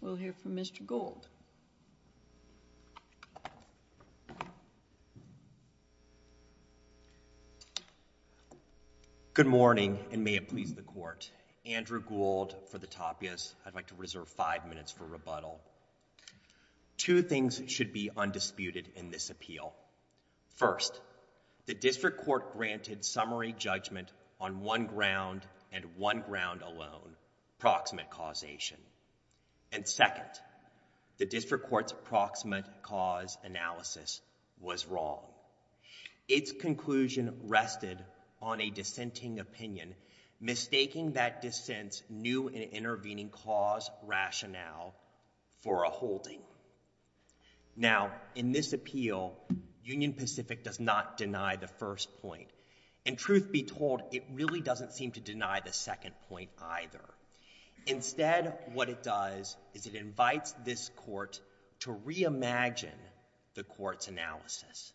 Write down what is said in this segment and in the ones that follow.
We'll hear from Mr. Gould. Good morning and may it please the court. Andrew Gould for the Tapias. I'd like to reserve five minutes for rebuttal. Two things should be undisputed in this appeal. First, the district court granted summary judgment on one ground and one ground alone, proximate causation. And second, the district court's approximate cause analysis was wrong. Its conclusion rested on a dissenting opinion, mistaking that dissent's new and intervening cause rationale for a holding. Now, in this appeal, Union Pacific does not deny the first point. And truth be told, it really doesn't seem to deny the second point either. Instead, what it does is it invites this court to reimagine the court's analysis.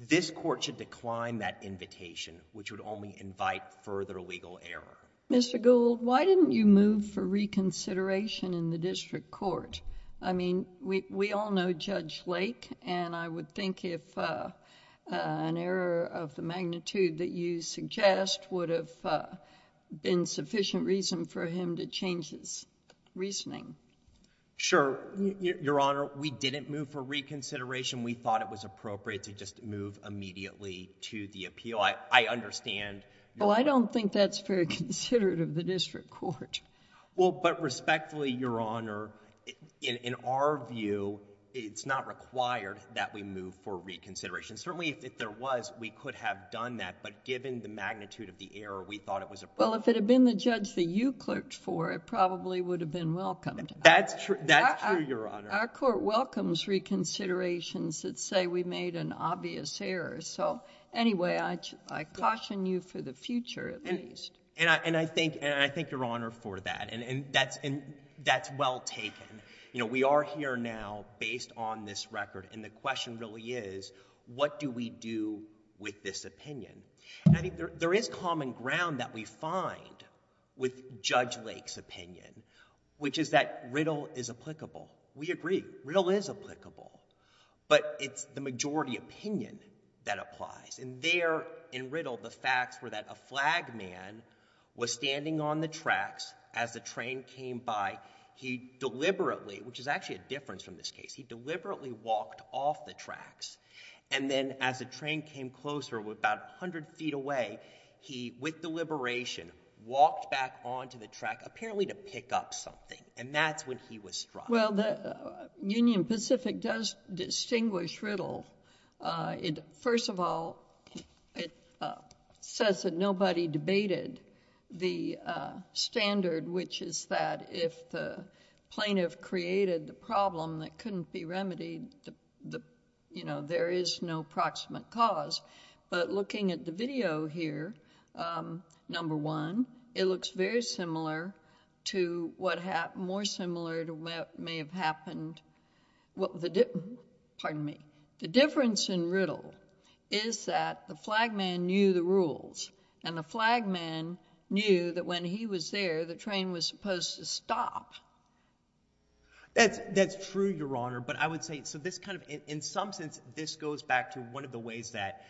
This court should decline that invitation, which would only invite further legal error. Mr. Gould, why didn't you move for reconsideration in the district court? I mean, we all know Judge Lake, and I would think if an error of the magnitude that you suggest would have been sufficient reason for him to change his reasoning. Sure. Your Honor, we didn't move for reconsideration. We thought it was appropriate to just move immediately to the appeal. I understand... Well, I don't think that's very considerate of the district court. Well, but respectfully, Your Honor, in our view, it's not required that we move for reconsideration. Certainly, if there was, we could have done that. But given the magnitude of the error, we thought it was appropriate. Well, if it had been the judge that you clerked for, it probably would have been welcomed. That's true. That's true, Your Honor. Our court welcomes reconsiderations that say we made an obvious error. So anyway, I caution you for the future, at least. And I thank Your Honor for that. And that's well taken. You know, we are here now based on this record, and the question really is, what do we do with this opinion? And I think there is common ground that we find with Judge Lake's opinion, which is that riddle is applicable. We agree. Riddle is applicable. But it's the majority opinion that applies. And there, in riddle, the facts were that a flag man was standing on the tracks as the train came by. He deliberately, which is actually a difference from this case, he deliberately walked off the tracks. And then as the train came closer, about 100 feet away, he, with deliberation, walked back onto the track, apparently to pick up something. And that's when he was struck. Well, the Union Pacific does distinguish riddle. First of all, it says that nobody debated the standard, which is that if the plaintiff created the problem that couldn't be remedied, you know, there is no proximate cause. But looking at the video here, number one, it looks very similar to what may have happened. Pardon me. The difference in riddle is that the flag man knew the rules. And the flag man knew that when he was there, the train was supposed to stop. That's true, Your Honor. But I would say, in some sense, this goes back to one of the ways that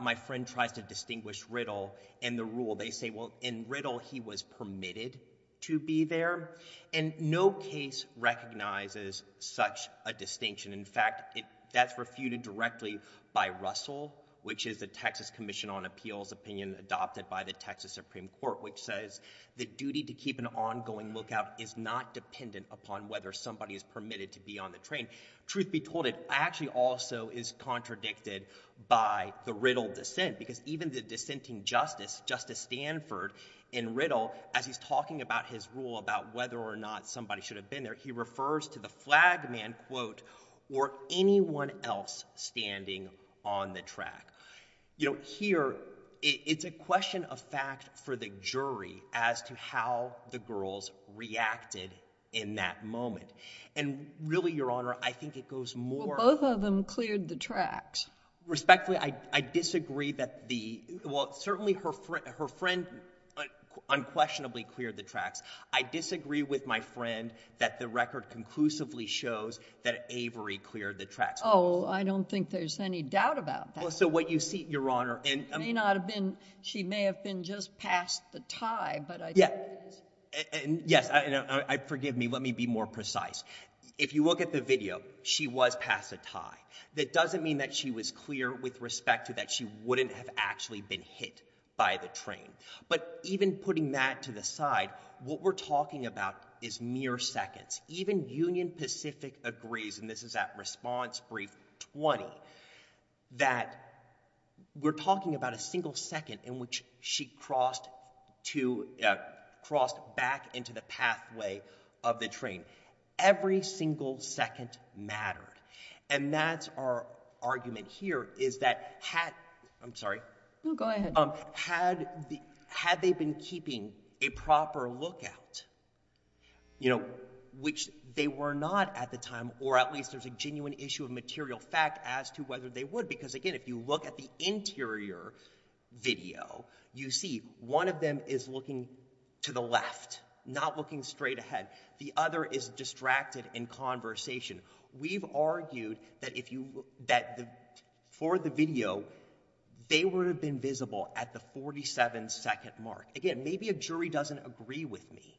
my friend tries to distinguish riddle and the rule. They say, well, in riddle, he was permitted to be there. And no case recognizes such a distinction. In fact, that's refuted directly by Russell, which is the Texas Commission on Appeals opinion adopted by the Texas Supreme Court, which says the duty to keep an ongoing lookout is not dependent upon whether somebody is permitted to be on the train. Truth be told, it actually also is contradicted by the riddle dissent, because even the dissenting justice, Justice Stanford, in riddle, as he's talking about his rule about whether or not somebody should have been there, he refers to the flag man, quote, or anyone else standing on the track. You know, here, it's a question of fact for the jury as to how the girls reacted in that moment. And really, Your Honor, I think it goes more— Well, both of them cleared the tracks. Respectfully, I disagree that the—well, certainly her friend unquestionably cleared the tracks. I disagree with my friend that the record conclusively shows that Avery cleared the tracks. Oh, I don't think there's any doubt about that. Well, so what you see, Your Honor, and— It may not have been—she may have been just past the tie, but I don't think it's— Yeah, and yes, forgive me, let me be more precise. If you look at the video, she was past the tie. That doesn't mean that she was clear with respect to that she wouldn't have actually been hit by the train. But even putting that to the side, what we're talking about is mere seconds. Even Union Pacific agrees, and this is at response brief 20, that we're talking about a single second in which she crossed back into the pathway of the train. Every single second mattered. And that's our argument here is that had—I'm sorry. No, go ahead. Had they been keeping a proper lookout, which they were not at the time, or at least there's a genuine issue of material fact as to whether they would, because again, if you look at the interior video, you see one of them is looking to the left, not looking straight ahead. The other is distracted in conversation. We've argued that for the video, they would have been visible at the 47-second mark. Again, maybe a jury doesn't agree with me,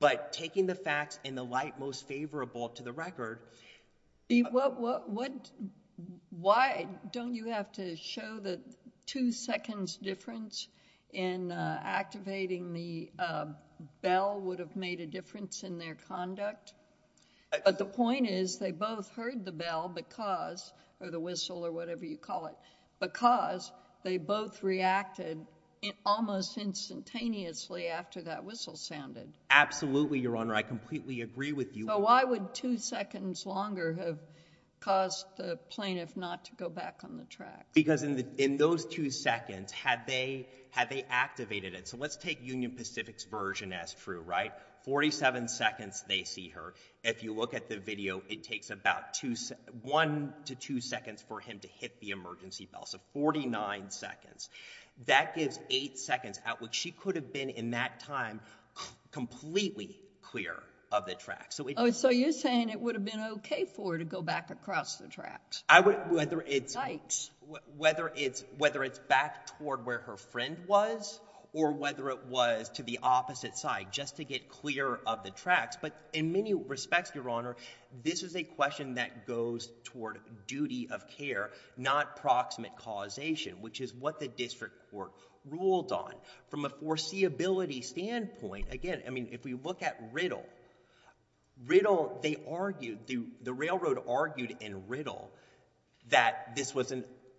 but taking the facts in the light most favorable to the record— Why don't you have to show the two-seconds difference in activating the bell would have made a difference in their conduct? But the point is they both heard the bell because— or the whistle or whatever you call it— because they both reacted almost instantaneously after that whistle sounded. Absolutely, Your Honor. I completely agree with you. So why would two seconds longer have caused the plaintiff not to go back on the track? Because in those two seconds, had they activated it— so let's take Union Pacific's version as true, right? At 47 seconds, they see her. If you look at the video, it takes about one to two seconds for him to hit the emergency bell. So 49 seconds. That gives eight seconds out, which she could have been, in that time, completely clear of the track. So you're saying it would have been okay for her to go back across the tracks? Whether it's back toward where her friend was or whether it was to the opposite side, just to get clear of the tracks. But in many respects, Your Honor, this is a question that goes toward duty of care, not proximate causation, which is what the district court ruled on. From a foreseeability standpoint, again, I mean, if we look at Riddle, they argued— the railroad argued in Riddle that this was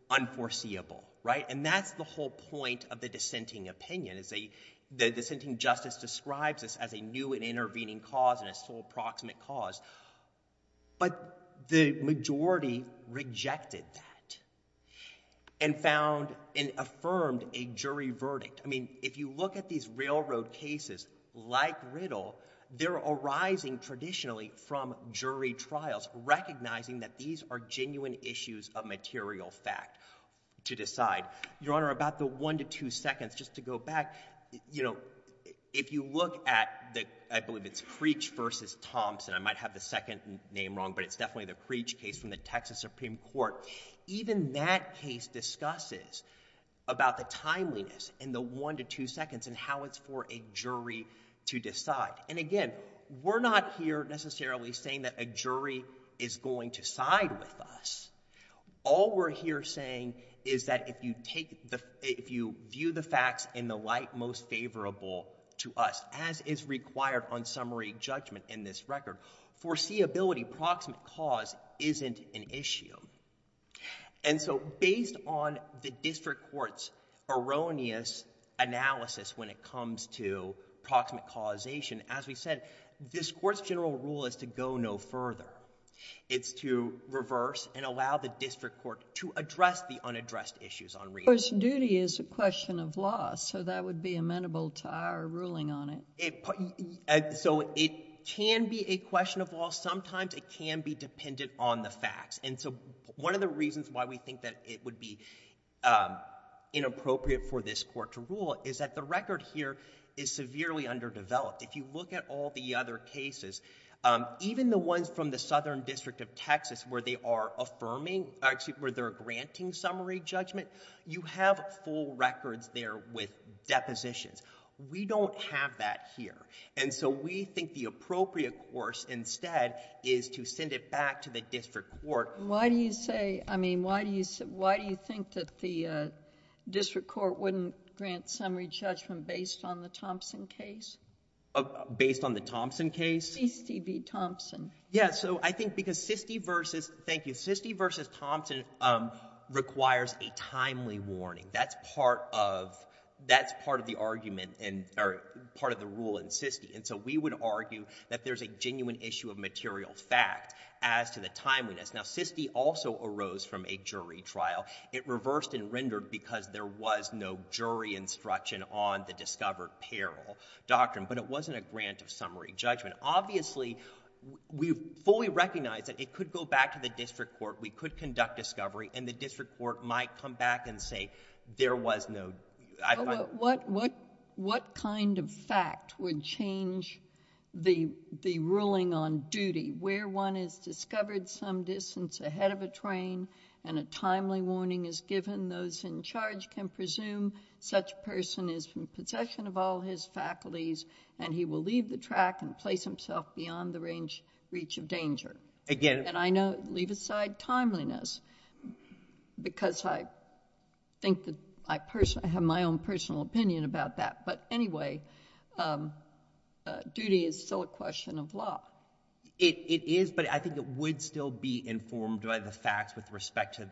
unforeseeable, right? And that's the whole point of the dissenting opinion. The dissenting justice describes this as a new and intervening cause and a sole proximate cause. But the majority rejected that and found and affirmed a jury verdict. I mean, if you look at these railroad cases like Riddle, they're arising traditionally from jury trials, recognizing that these are genuine issues of material fact to decide. Your Honor, about the one to two seconds, just to go back, you know, if you look at the— I believe it's Creech v. Thompson. I might have the second name wrong, but it's definitely the Creech case from the Texas Supreme Court. Even that case discusses about the timeliness in the one to two seconds and how it's for a jury to decide. And again, we're not here necessarily saying that a jury is going to side with us. All we're here saying is that if you take the— if you view the facts in the light most favorable to us, as is required on summary judgment in this record, foreseeability, proximate cause, isn't an issue. And so based on the district court's erroneous analysis when it comes to proximate causation, as we said, this court's general rule is to go no further. It's to reverse and allow the district court to address the unaddressed issues on reappearance. But duty is a question of law, so that would be amenable to our ruling on it. So it can be a question of law. Sometimes it can be dependent on the facts. And so one of the reasons why we think that it would be inappropriate for this court to rule is that the record here is severely underdeveloped. If you look at all the other cases, even the ones from the Southern District of Texas where they are affirming— actually, where they're granting summary judgment, you have full records there with depositions. We don't have that here. And so we think the appropriate course instead is to send it back to the district court. Why do you say—I mean, why do you think that the district court wouldn't grant summary judgment based on the Thompson case? Based on the Thompson case? SISTI v. Thompson. Yeah, so I think because SISTI versus—thank you. SISTI v. Thompson requires a timely warning. That's part of the argument, or part of the rule in SISTI. And so we would argue that there's a genuine issue of material fact as to the timeliness. Now, SISTI also arose from a jury trial. It reversed and rendered because there was no jury instruction on the discovered peril doctrine. But it wasn't a grant of summary judgment. Obviously, we fully recognize that it could go back to the district court, we could conduct discovery, and the district court might come back and say, there was no— What kind of fact would change the ruling on duty? Where one has discovered some distance ahead of a train and a timely warning is given, those in charge can presume such a person is in possession of all his faculties and he will leave the track and place himself beyond the reach of danger. And I know, leave aside timeliness, because I think that I personally— I have my own personal opinion about that. But anyway, duty is still a question of law. It is, but I think it would still be informed by the facts with respect to—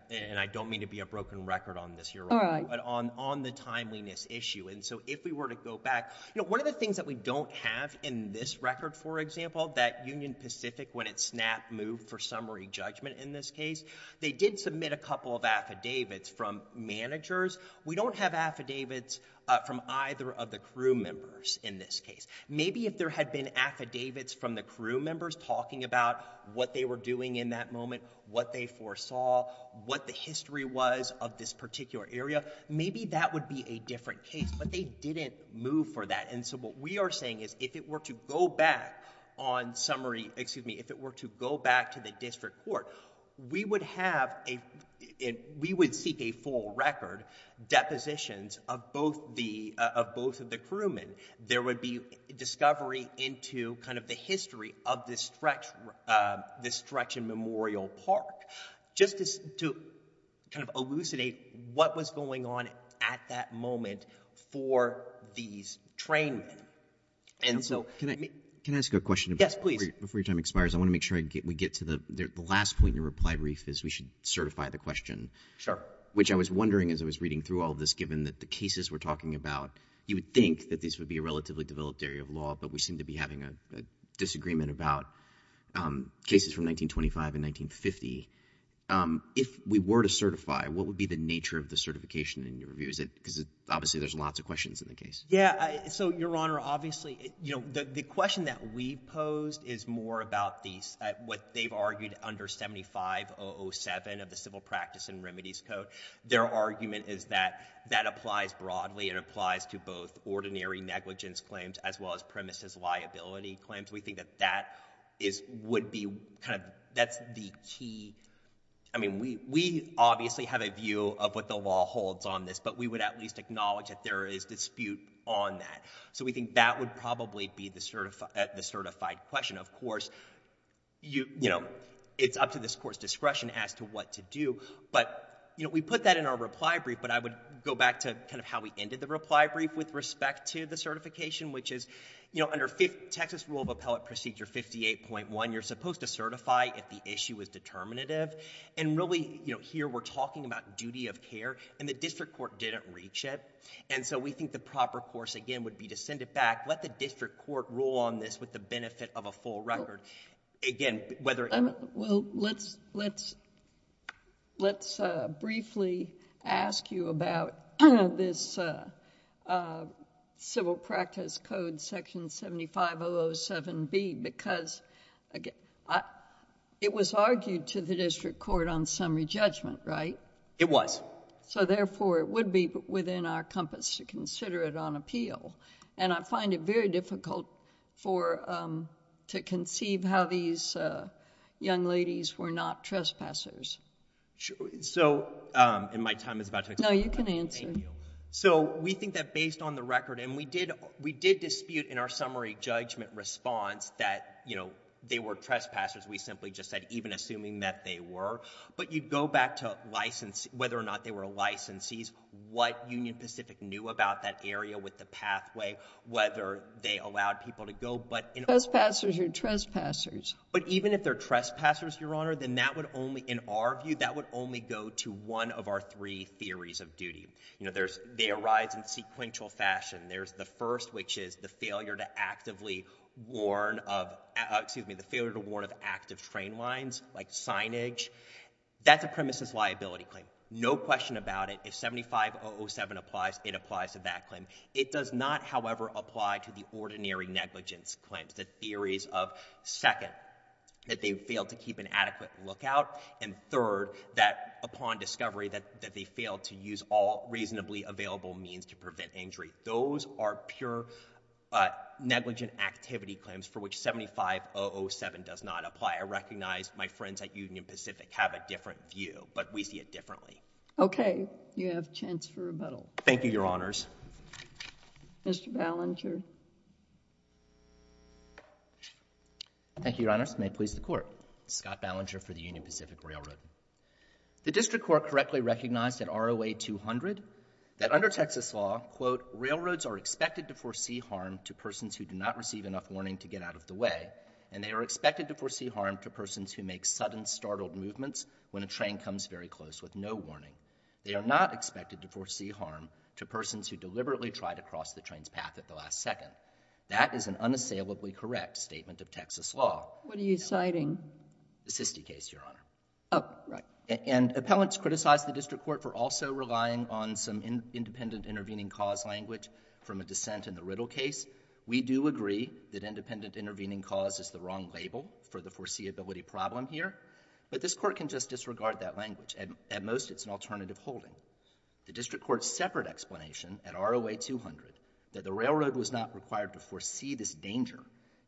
All right. On the timeliness issue. And so if we were to go back— One of the things that we don't have in this record, for example, that Union Pacific, when it snapped, moved for summary judgment in this case, they did submit a couple of affidavits from managers. We don't have affidavits from either of the crew members in this case. Maybe if there had been affidavits from the crew members talking about what they were doing in that moment, what they foresaw, what the history was of this particular area, maybe that would be a different case. But they didn't move for that. And so what we are saying is, if it were to go back on summary— excuse me, if it were to go back to the district court, we would have a— we would seek a full record, depositions of both the— of both of the crewmen. There would be discovery into kind of the history of this stretch in Memorial Park. Just to kind of elucidate what was going on at that moment for these trainmen. And so— Can I ask a question? Yes, please. Before your time expires, I want to make sure we get to the— the last point in your reply, Reif, is we should certify the question. Sure. Which I was wondering, as I was reading through all of this, given that the cases we're talking about, you would think that this would be a relatively developed area of law, but we seem to be having a disagreement about cases from 1925 and 1950. If we were to certify, what would be the nature of the certification in your review? Because obviously there's lots of questions in the case. Yeah, so, Your Honor, obviously, you know, the question that we posed is more about the— what they've argued under 75-007 of the Civil Practice and Remedies Code. Their argument is that that applies broadly. It applies to both ordinary negligence claims as well as premises liability claims. We think that that is— would be kind of— that's the key— I mean, we obviously have a view of what the law holds on this, but we would at least acknowledge that there is dispute on that. So we think that would probably be the certified question. Of course, you know, it's up to this Court's discretion as to what to do, but, you know, we put that in our reply brief, but I would go back to kind of how we ended the reply brief with respect to the certification, which is, you know, under Texas Rule of Appellate Procedure 58.1, you're supposed to certify if the issue is determinative, and really, you know, here we're talking about duty of care, and the District Court didn't reach it, and so we think the proper course, again, would be to send it back, let the District Court rule on this with the benefit of a full record. Again, whether— Well, let's— Let's briefly ask you about this Civil Practice Code Section 7507B because it was argued to the District Court on summary judgment, right? It was. So therefore, it would be within our compass to consider it on appeal, and I find it very difficult for—to conceive how these young ladies were not trespassers. So, and my time is about to expire. No, you can answer. So, we think that based on the record, and we did dispute in our summary judgment response that, you know, they were trespassers. We simply just said, even assuming that they were, but you'd go back to whether or not they were licensees, what Union Pacific knew about that area with the pathway, whether they allowed people to go, but—Trespassers are trespassers. But even if they're trespassers, Your Honor, then that would only, in our view, that would only go to one of our three theories of duty. You know, there's—they arise in sequential fashion. There's the first, which is the failure to actively warn of— excuse me, the failure to warn of active train lines, like signage. That's a premises liability claim. No question about it. If 7507 applies, it applies to that claim. It does not, however, apply to the ordinary negligence claims, the theories of second, that they failed to keep an adequate lookout, and third, that upon discovery, that they failed to use all reasonably available means to prevent injury. Those are pure negligent activity claims for which 7507 does not apply. I recognize my friends at Union Pacific have a different view, but we see it differently. Okay. You have a chance for rebuttal. Thank you, Your Honors. Mr. Ballinger. Thank you, Your Honors. May it please the Court. Scott Ballinger for the Union Pacific Railroad. The district court correctly recognized at ROA 200 that under Texas law, quote, railroads are expected to foresee harm to persons who do not receive enough warning to get out of the way, and they are expected to foresee harm to persons who make sudden, startled movements when a train comes very close with no warning. They are not expected to foresee harm to persons who deliberately try to cross the train's path at the last second. That is an unassailably correct statement of Texas law. What are you citing? The Sisti case, Your Honor. Oh, right. And appellants criticize the district court for also relying on some independent intervening cause language from a dissent in the Riddle case. We do agree that independent intervening cause is the wrong label for the foreseeability problem here, but this court can just disregard that language. At most, it's an alternative holding. The district court's separate explanation at ROA 200 that the railroad was not required to foresee this danger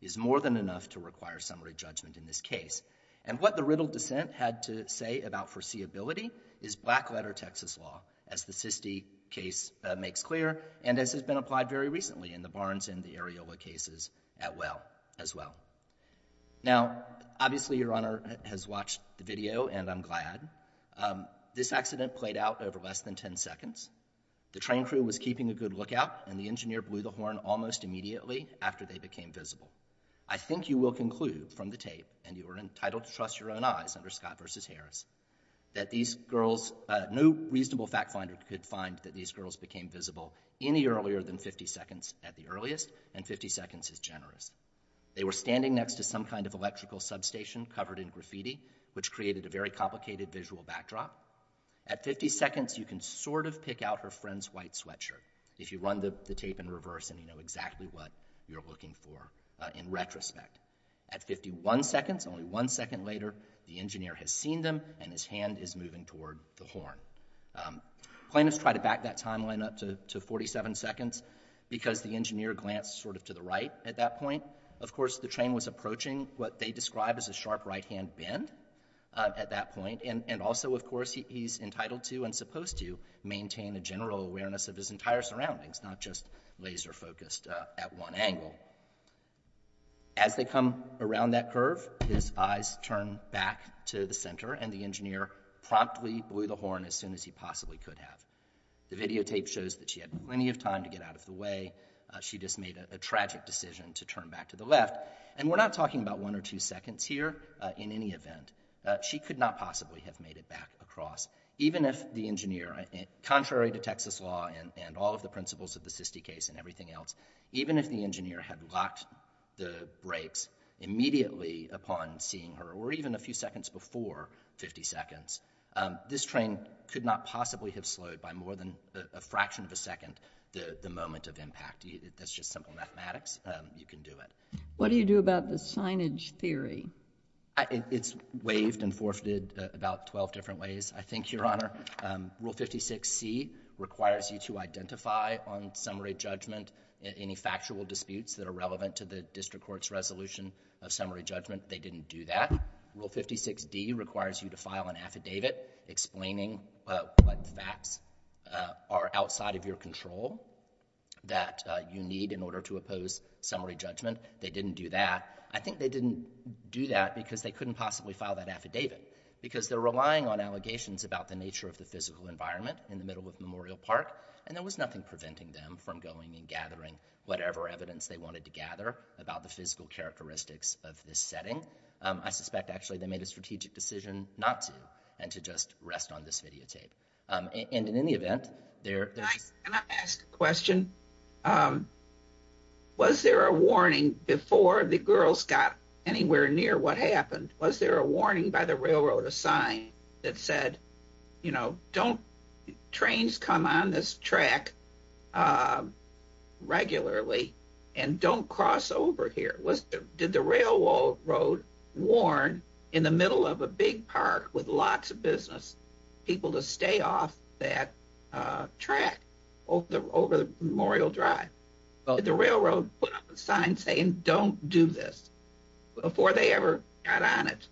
is more than enough to require summary judgment in this case, and what the Riddle dissent had to say about foreseeability is black letter Texas law, as the Sisti case makes clear, and as has been applied very recently in the Barnes and the Areola cases as well. Now, obviously, Your Honor has watched the video, and I'm glad. This accident played out over less than 10 seconds. The train crew was keeping a good lookout, and the engineer blew the horn almost immediately after they became visible. I think you will conclude from the tape, and you are entitled to trust your own eyes under Scott v. Harris, that these girls, no reasonable fact finder could find that these girls became visible any earlier than 50 seconds at the earliest, and 50 seconds is generous. They were standing next to some kind of electrical substation covered in graffiti, which created a very complicated visual backdrop. At 50 seconds, you can sort of pick out her friend's white sweatshirt if you run the tape in reverse and you know exactly what you're looking for in retrospect. At 51 seconds, only one second later, the engineer has seen them, and his hand is moving toward the horn. Plaintiffs tried to back that timeline up to 47 seconds because the engineer glanced sort of to the right at that point. Of course, the train was approaching what they describe as a sharp right-hand bend at that point, and also, of course, he's entitled to and supposed to maintain a general awareness of his entire surroundings, not just laser-focused at one angle. As they come around that curve, his eyes turn back to the center and the engineer promptly blew the horn as soon as he possibly could have. The videotape shows that she had plenty of time to get out of the way. She just made a tragic decision to turn back to the left, and we're not talking about one or two seconds here in any event. She could not possibly have made it back across, even if the engineer contrary to Texas law and all of the principles of the SISTI case and everything else, even if the engineer had locked the brakes immediately upon seeing her, or even a few seconds before 50 seconds, this train could not possibly have slowed by more than a fraction of a second the moment of impact. That's just simple mathematics. You can do it. What do you do about the signage theory? It's waived and forfeited about 12 different ways. I think, Your Honor, Rule 56C requires you to identify on summary judgment any factual disputes that are relevant to the district court's resolution of summary judgment. They didn't do that. Rule 56D requires you to file an affidavit explaining what facts are outside of your control that you need in order to oppose summary judgment. They didn't do that. I think they didn't do that because they couldn't possibly file that affidavit, because they're relying on allegations about the nature of the physical environment in the middle of Memorial Park and there was nothing preventing them from going and gathering whatever evidence they wanted to gather about the physical characteristics of this setting. I suspect, actually, they made a strategic decision not to, and to just rest on this videotape. And in any event, there... Can I ask a question? Was there a warning before the girls got anywhere near what happened? Was there a warning by the railroad, a sign that said, you know, don't... Trains come on this track regularly and don't cross over here. Did the railroad warn, in the middle of a big park with lots of business, people to stay off that track over Memorial Drive? Did the railroad put up a sign saying don't do this before they ever got on it?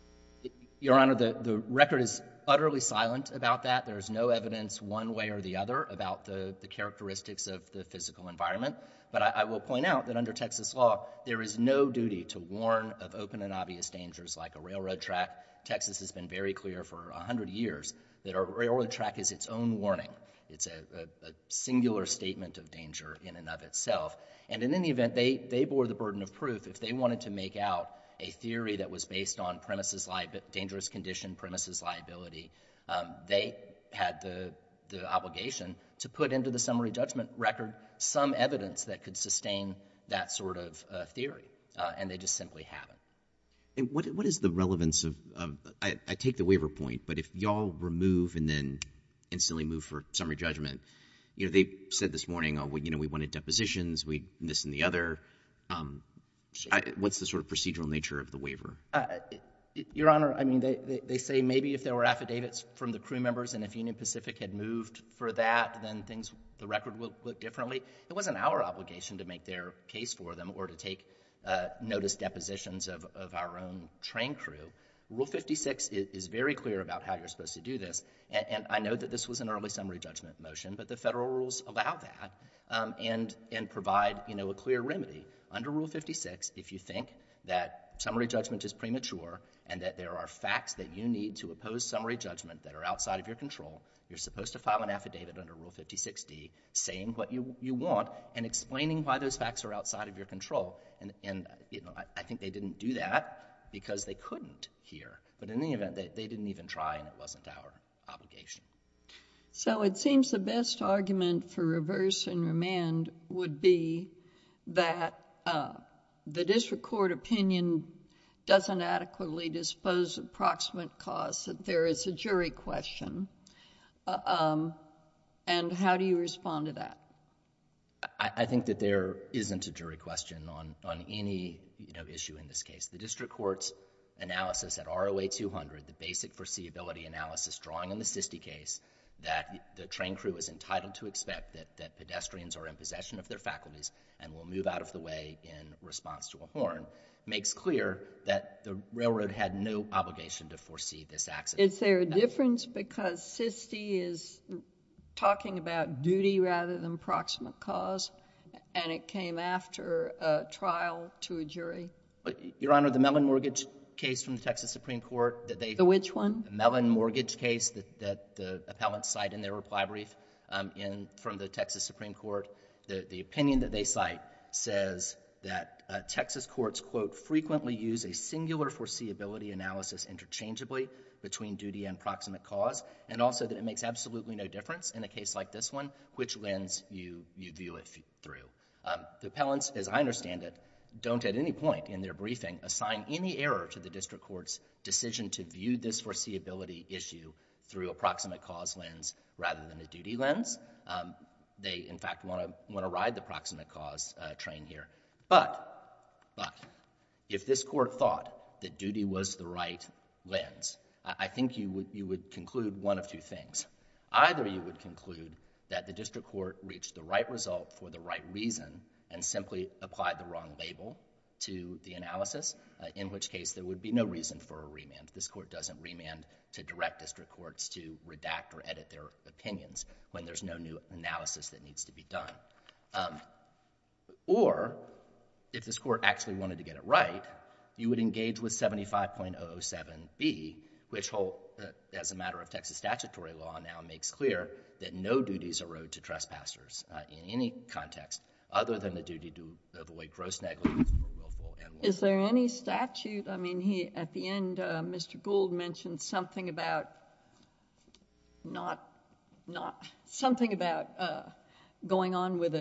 Your Honor, the record is utterly silent about that. There's no evidence one way or the other about the characteristics of the physical environment. But I will point out that under Texas law, there is no duty to warn of open and obvious dangers like a railroad track. Texas has been very clear for a hundred years that a railroad track is its own warning. It's a singular statement of danger in and of itself. And in any event, they bore the burden of proof. If they wanted to make out a theory that was based on premises liability, dangerous condition, premises liability, they had the obligation to put into the summary judgment record some evidence that could sustain that sort of theory. And they just simply haven't. What is the relevance of... I take the waiver point, but if y'all remove and then instantly move for summary judgment, they said this morning, we wanted depositions, this and the other. What's the sort of procedural nature of the waiver? Your Honor, they say maybe if there were affidavits from the crew members and if Union Pacific had moved for that then the record would look differently. It wasn't our obligation to make their case for them or to take notice depositions of our own train crew. Rule 56 is very clear about how you're supposed to do this. And I know that this was an early summary judgment motion, but the federal rules allow that and provide a clear remedy. Under Rule 56 if you think that summary judgment is premature and that there are facts that you need to oppose summary judgment that are outside of your control, you're supposed to file an affidavit under Rule 56D saying what you want and explaining why those facts are outside of your control. And I think they didn't do that because they couldn't hear. But in any event, they didn't even try and it wasn't our obligation. So it seems the best argument for reverse and remand would be that the district court opinion doesn't adequately dispose of proximate cause that there is a jury question. And how do you respond to that? I think that there isn't a jury question on any issue in this case. The district court's analysis at ROA 200, the basic foreseeability analysis drawing on the SISTI case that the train crew is entitled to expect that pedestrians are in possession of their faculties and will move out of the way in response to a horn, makes clear that the railroad had no obligation to foresee this accident. Is there a difference because SISTI is talking about duty rather than proximate cause and it came after a trial to a jury? Your Honor, the Mellon mortgage case from the Texas Supreme Court. Which one? The Mellon mortgage case that the appellants cite in their reply brief from the Texas Supreme Court. The opinion that they cite says that Texas courts quote, frequently use a singular foreseeability analysis interchangeably between duty and proximate cause and also that it makes absolutely no difference in a case like this one which lens you view it through. The appellants, as I understand it, don't at any point in their briefing assign any error to the district court's decision to view this foreseeability issue through a proximate cause lens rather than a duty lens. They in fact want to ride the proximate cause train here but if this court thought that duty was the right lens, I think you would conclude one of two things. Either you would conclude that the district court reached the right result for the right reason and simply applied the wrong label to the analysis in which case there would be no reason for a remand. This court doesn't remand to direct district courts to redact or edit their opinions when there's no new analysis that needs to be done. Or if this court actually wanted to get it right, you would engage with 75.007B which as a matter of Texas statutory law now makes clear that no duties erode to trespassers in any context other than the duty to avoid gross negligence. Is there any statute? I mean, at the end Mr. Gould mentioned something about not going on with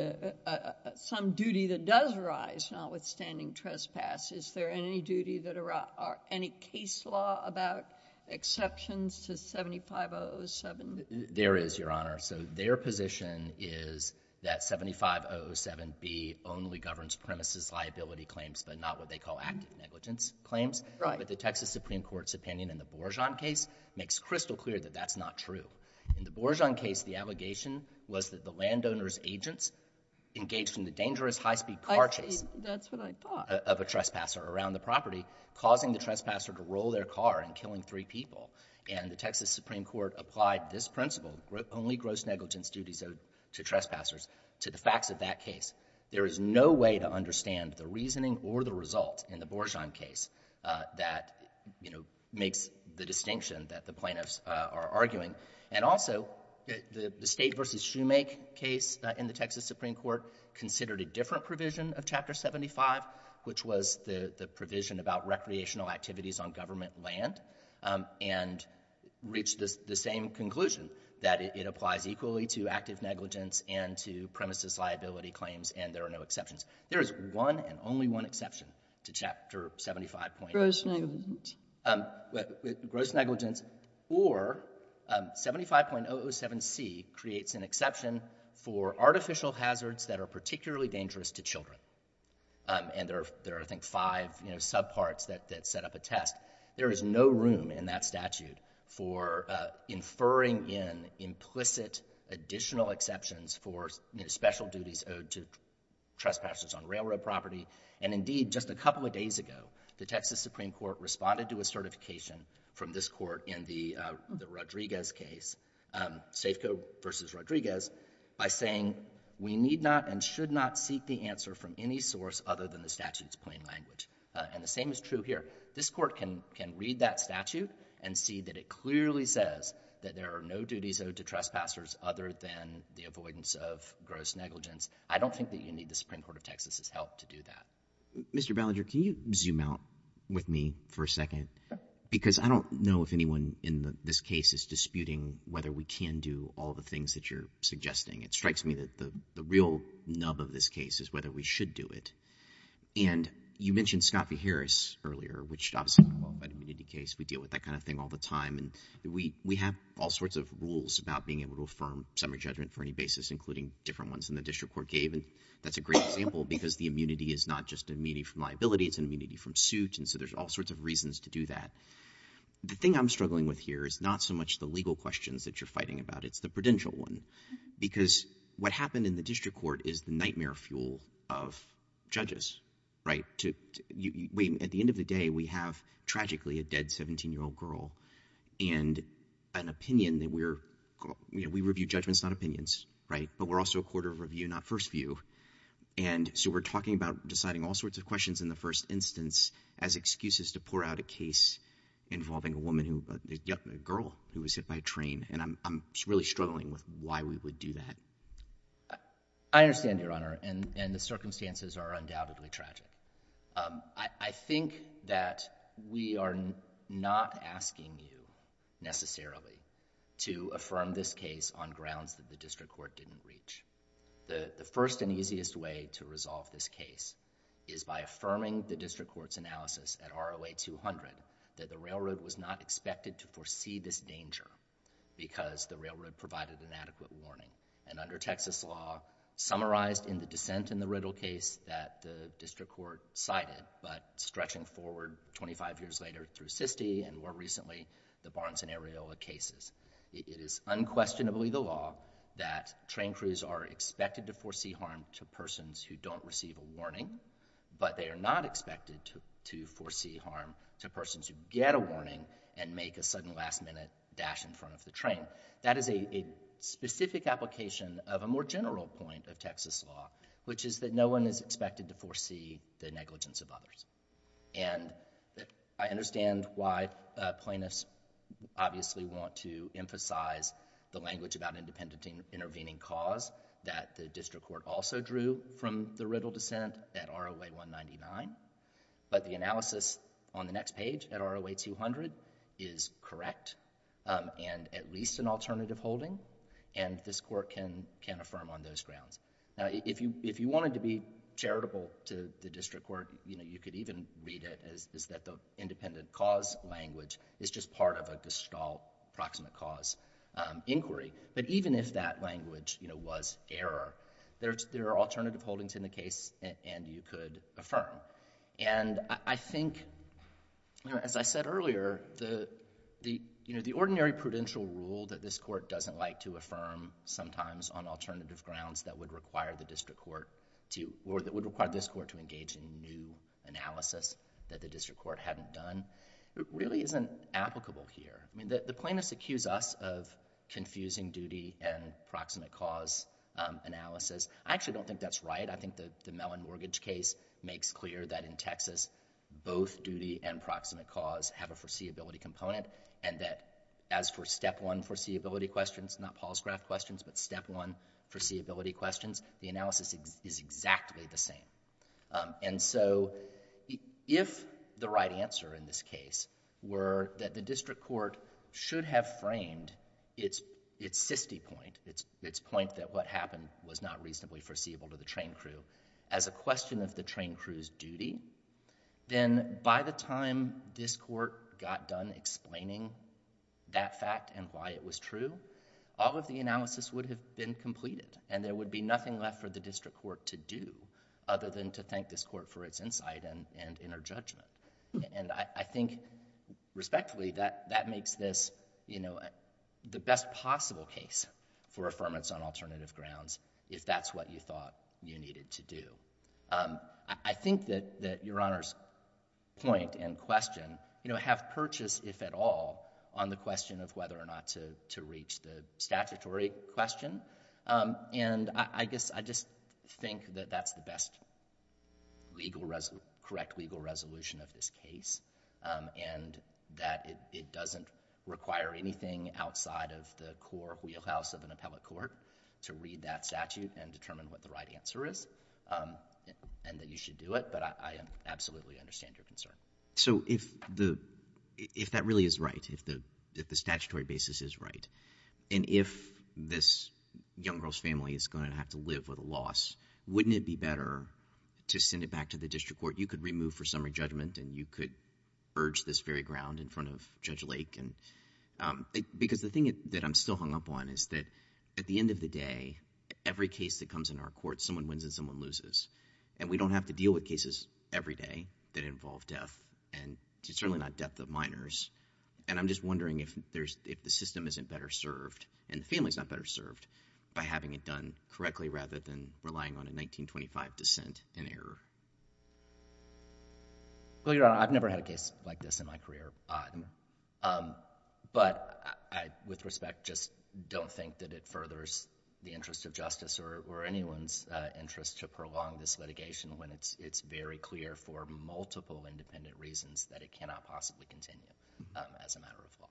some duty that does arise notwithstanding trespass. Is there any duty that arise, any case law about exceptions to 75.007? There is, Your Honor. So their position is that 75.007B only governs premises liability claims but not what they call active negligence claims. But the Texas Supreme Court's opinion in the Borjohn case makes crystal clear that that's not true. In the Borjohn case the agents engaged in the dangerous high speed car chase. That's what I thought. Of a trespasser around the property causing the trespasser to roll their car and killing three people. And the Texas Supreme Court applied this principle only gross negligence duties erode to trespassers to the facts of that case. There is no way to understand the reasoning or the result in the Borjohn case that makes the distinction that the plaintiffs are arguing. And also the State v. Shoemake case in the Texas Supreme Court considered a different provision of Chapter 75 which was the provision about recreational activities on government land and reached the same conclusion that it applies equally to active negligence and to premises liability claims and there are no exceptions. There is one and only one exception to Chapter 75.007. Gross negligence. Gross negligence or 75.007C creates an exception for artificial hazards that are particularly dangerous to children. And there are I think five sub parts that set up a test. There is no room in that statute for inferring in implicit additional exceptions for special duties owed to trespassers on railroad property and indeed just a couple of days ago the Texas Supreme Court responded to a certification from this court in the Rodriguez case Safeco v. Rodriguez by saying we need not and should not seek the answer from any source other than the statute's plain language. And the same is true here. This court can read that statute and see that it clearly says that there are no duties owed to trespassers other than the avoidance of gross negligence. I don't think that you need the Supreme Court of Texas's help to do that. Mr. Ballinger, can you zoom out with me for a second? Because I don't know if anyone in this case is disputing whether we can do all the things that you're suggesting. It strikes me that the real nub of this case is whether we should do it. And you mentioned Scott v. Harris earlier, which is an immunity case. We deal with that kind of thing all the time. And we have all sorts of rules about being able to affirm summary judgment for any basis, including different ones that the district court gave. That's a great example because the immunity is not just immunity from liability. It's immunity from suit. And so there's all sorts of reasons to do that. The thing I'm struggling with here is not so much the legal questions that you're fighting about. It's the prudential one. Because what happened in the district court is the nightmare fuel of judges. At the end of the day, we have tragically a dead 17-year-old girl and an opinion that we review judgments, not opinions. But we're also a court of review, not first view. And so we're talking about deciding all sorts of questions in the first instance as excuses to pour out a case involving a woman who, a girl who was hit by a train. And I'm really struggling with why we would do that. I understand, Your Honor. And the circumstances are undoubtedly tragic. I think that we are not asking you necessarily to affirm this case on grounds that the district court didn't reach. The first and easiest way to resolve this case is by affirming the district court's analysis at ROA 200 that the railroad was not expected to foresee this danger because the railroad provided inadequate warning. And under Texas law, summarized in the dissent in the Riddle case that the district court cited, but stretching forward 25 years later through SISTE and more recently the Barnes and Areola cases, it is unquestionably the law that train crews are expected to foresee harm to persons who don't receive a warning, but they are not expected to foresee harm to persons who get a warning and make a sudden last-minute dash in front of the train. That is a specific application of a more general point of Texas law, which is that no one is expected to foresee the negligence of others. And I understand why plaintiffs obviously want to emphasize the language about independent intervening cause that the district court also drew from the Riddle dissent at ROA 199, but the analysis on the next page at ROA 200 is correct and at least an alternative holding, and this court can affirm on those grounds. Now, if you wanted to be charitable to the district court, you could even read it as that the independent cause language is just part of a Gestalt proximate cause inquiry. But even if that language was error, there are alternative holdings in the case, and you could affirm. And I think, as I said earlier, the ordinary prudential rule that this court doesn't like to affirm sometimes on alternative grounds that would require the district court to, or that would require this court to engage in new analysis that the district court hadn't done, really isn't applicable here. The plaintiffs accuse us of confusing duty and proximate cause analysis. I actually don't think that's right. I think the Mellon mortgage case makes clear that in Texas both duty and proximate cause have a foreseeability component, and that as for step one foreseeability questions, not Paul's graph questions, but step one foreseeability questions, the analysis is exactly the same. And so if the right answer in this case were that the district court should have framed its sisty point, its point that what happened was not reasonably foreseeable to the train crew as a question of the train crew's duty, then by the time this court got done explaining that fact and why it was true, all of the analysis would have been completed, and there would be nothing left for the district court to do other than to thank this court for its insight and inner judgment. And I think respectfully that makes this the best possible case for affirmance on alternative grounds if that's what you thought you needed to do. I think that Your Honor's point and question have purchased, if at all, on the question of whether or not to reach the statutory question, and I guess I just think that that's the best correct legal resolution of this case, and that it doesn't require anything outside of the core wheelhouse of an appellate court to read that statute and determine what the right answer is, and that you should do it, but I absolutely understand your concern. So if the if that really is right, if the statutory basis is right, and if this young girl's family is going to have to live with a loss, wouldn't it be better to send it back to the district court? You could remove for summary judgment, and you could urge this very ground in front of Judge Lake, and because the thing that I'm still hung up on is that at the end of the day, every case that comes into our court, someone wins and someone loses, and we don't have to deal with cases every day that involve death, and certainly not death of minors, and I'm just wondering if the system isn't better served and the family's not better served by having it done correctly rather than relying on a 1925 dissent and error. Well, Your Honor, I've never had a case like this in my career. But with respect, just don't think that it furthers the interest of justice or anyone's interest to prolong this litigation when it's very clear for multiple independent reasons that it cannot possibly continue as a matter of law.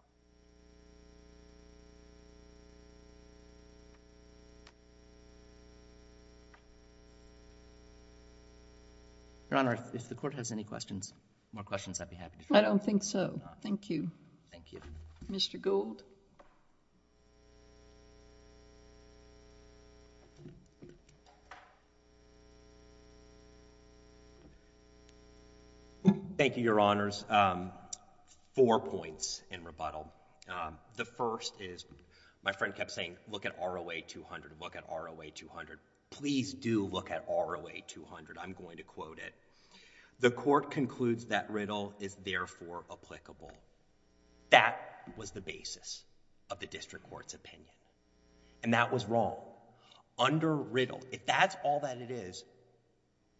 Your Honor, if the court has any questions, more questions, I'd be happy to try. I don't think so. Thank you. Thank you. Mr. Gould. Thank you, Your Honors. Four points in rebuttal. The first is my friend kept saying, look at ROA 200, look at ROA 200. Please do look at ROA 200. I'm going to quote it. The court concludes that riddle is therefore applicable. That was the basis of the district court's opinion. And that was wrong. Under riddle, if that's all that it is,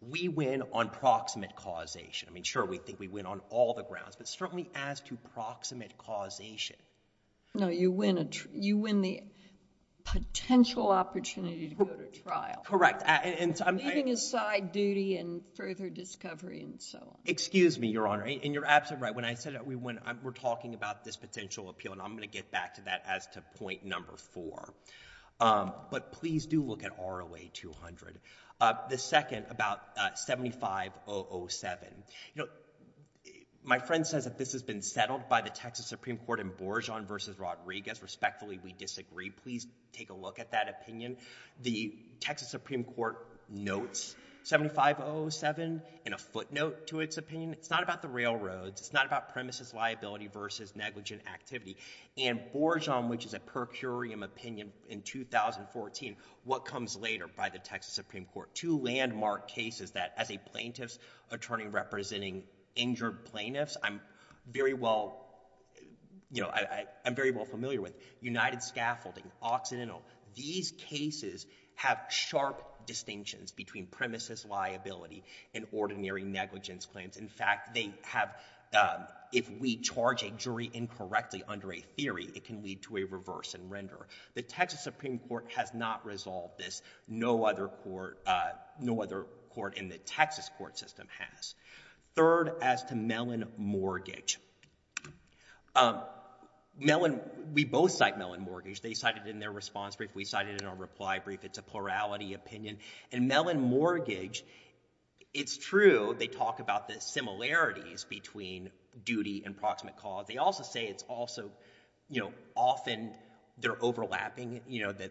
we win on proximate causation. Sure, we think we win on all the grounds, but certainly as to proximate causation. No, you win the potential opportunity to go to trial. Correct. Leaving aside duty and further discovery and so on. Excuse me, Your Honor, and you're absolutely right. When I said we're talking about this potential appeal, and I'm going to get back to that as to point number four. But please do look at ROA 200. The second, about 75 007. My friend says that this has been settled by the Texas Supreme Court in Borjohn v. Rodriguez. Respectfully, we agree with that opinion. The Texas Supreme Court notes 75 007 in a footnote to its opinion. It's not about the railroads. It's not about premises liability versus negligent activity. And Borjohn, which is a per curiam opinion in 2014, what comes later by the Texas Supreme Court? Two landmark cases that, as a plaintiff's attorney representing injured plaintiffs, I'm very well familiar with. United Scaffolding, Occidental. These cases have sharp distinctions between premises liability and ordinary negligence claims. In fact, they have if we charge a jury incorrectly under a theory, it can lead to a reverse and render. The Texas Supreme Court has not resolved this. No other court in the Texas court system has. Third, as to Mellon Mortgage. We both cite Mellon Mortgage. They cited it in their response brief. We cited it in our reply brief. It's a plurality opinion. And Mellon Mortgage, it's true, they talk about the similarities between duty and proximate cause. They also say it's also often they're overlapping.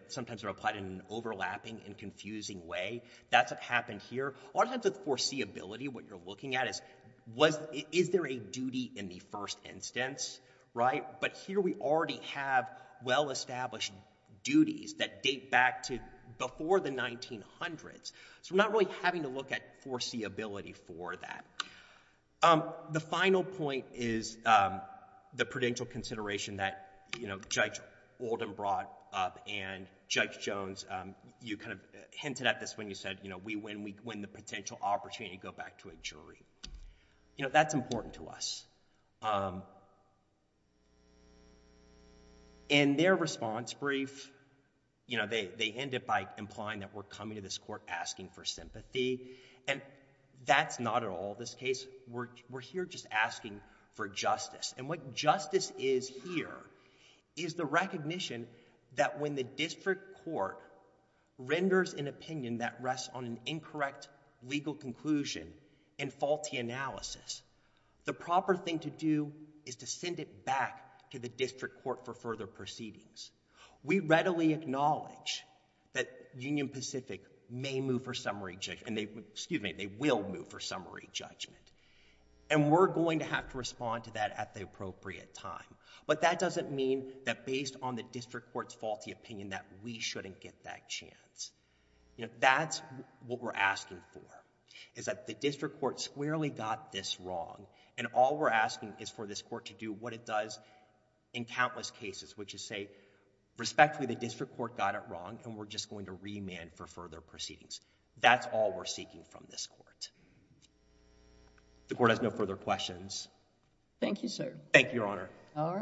Sometimes they're applied in an overlapping and confusing way. That's what happened here. A lot of times, the foreseeability, what you're looking at is, is there a duty in the first instance? Right? But here we already have well-established duties that date back to before the 1900s. So we're not really having to look at foreseeability for that. The final point is the prudential consideration that, you know, Judge Oldham brought up and Judge Jones, you kind of hinted at this when you said, you know, we win the potential opportunity to go back to a jury. You know, that's important to us. In their response brief, you know, they end it by implying that we're coming to this court asking for sympathy. And that's not at all this case. We're here just asking for justice. And what justice is here is the recognition that when the district court renders an opinion that rests on an incorrect legal conclusion and faulty analysis, the proper thing to do is to send it back to the district court for further proceedings. We readily acknowledge that Union Pacific may move for summary, excuse me, they will move for summary judgment. And we're going to have to respond to that at the appropriate time. But that doesn't mean that based on the district court's faulty opinion that we shouldn't get that chance. You know, that's what we're asking for, is that the district court squarely got this wrong and all we're asking is for this court to do what it does in countless cases, which is say respectfully, the district court got it wrong and we're just going to remand for further proceedings. That's all we're seeking from this court. The court has no further questions. Thank you, sir. Thank you, Your Honor. All righty.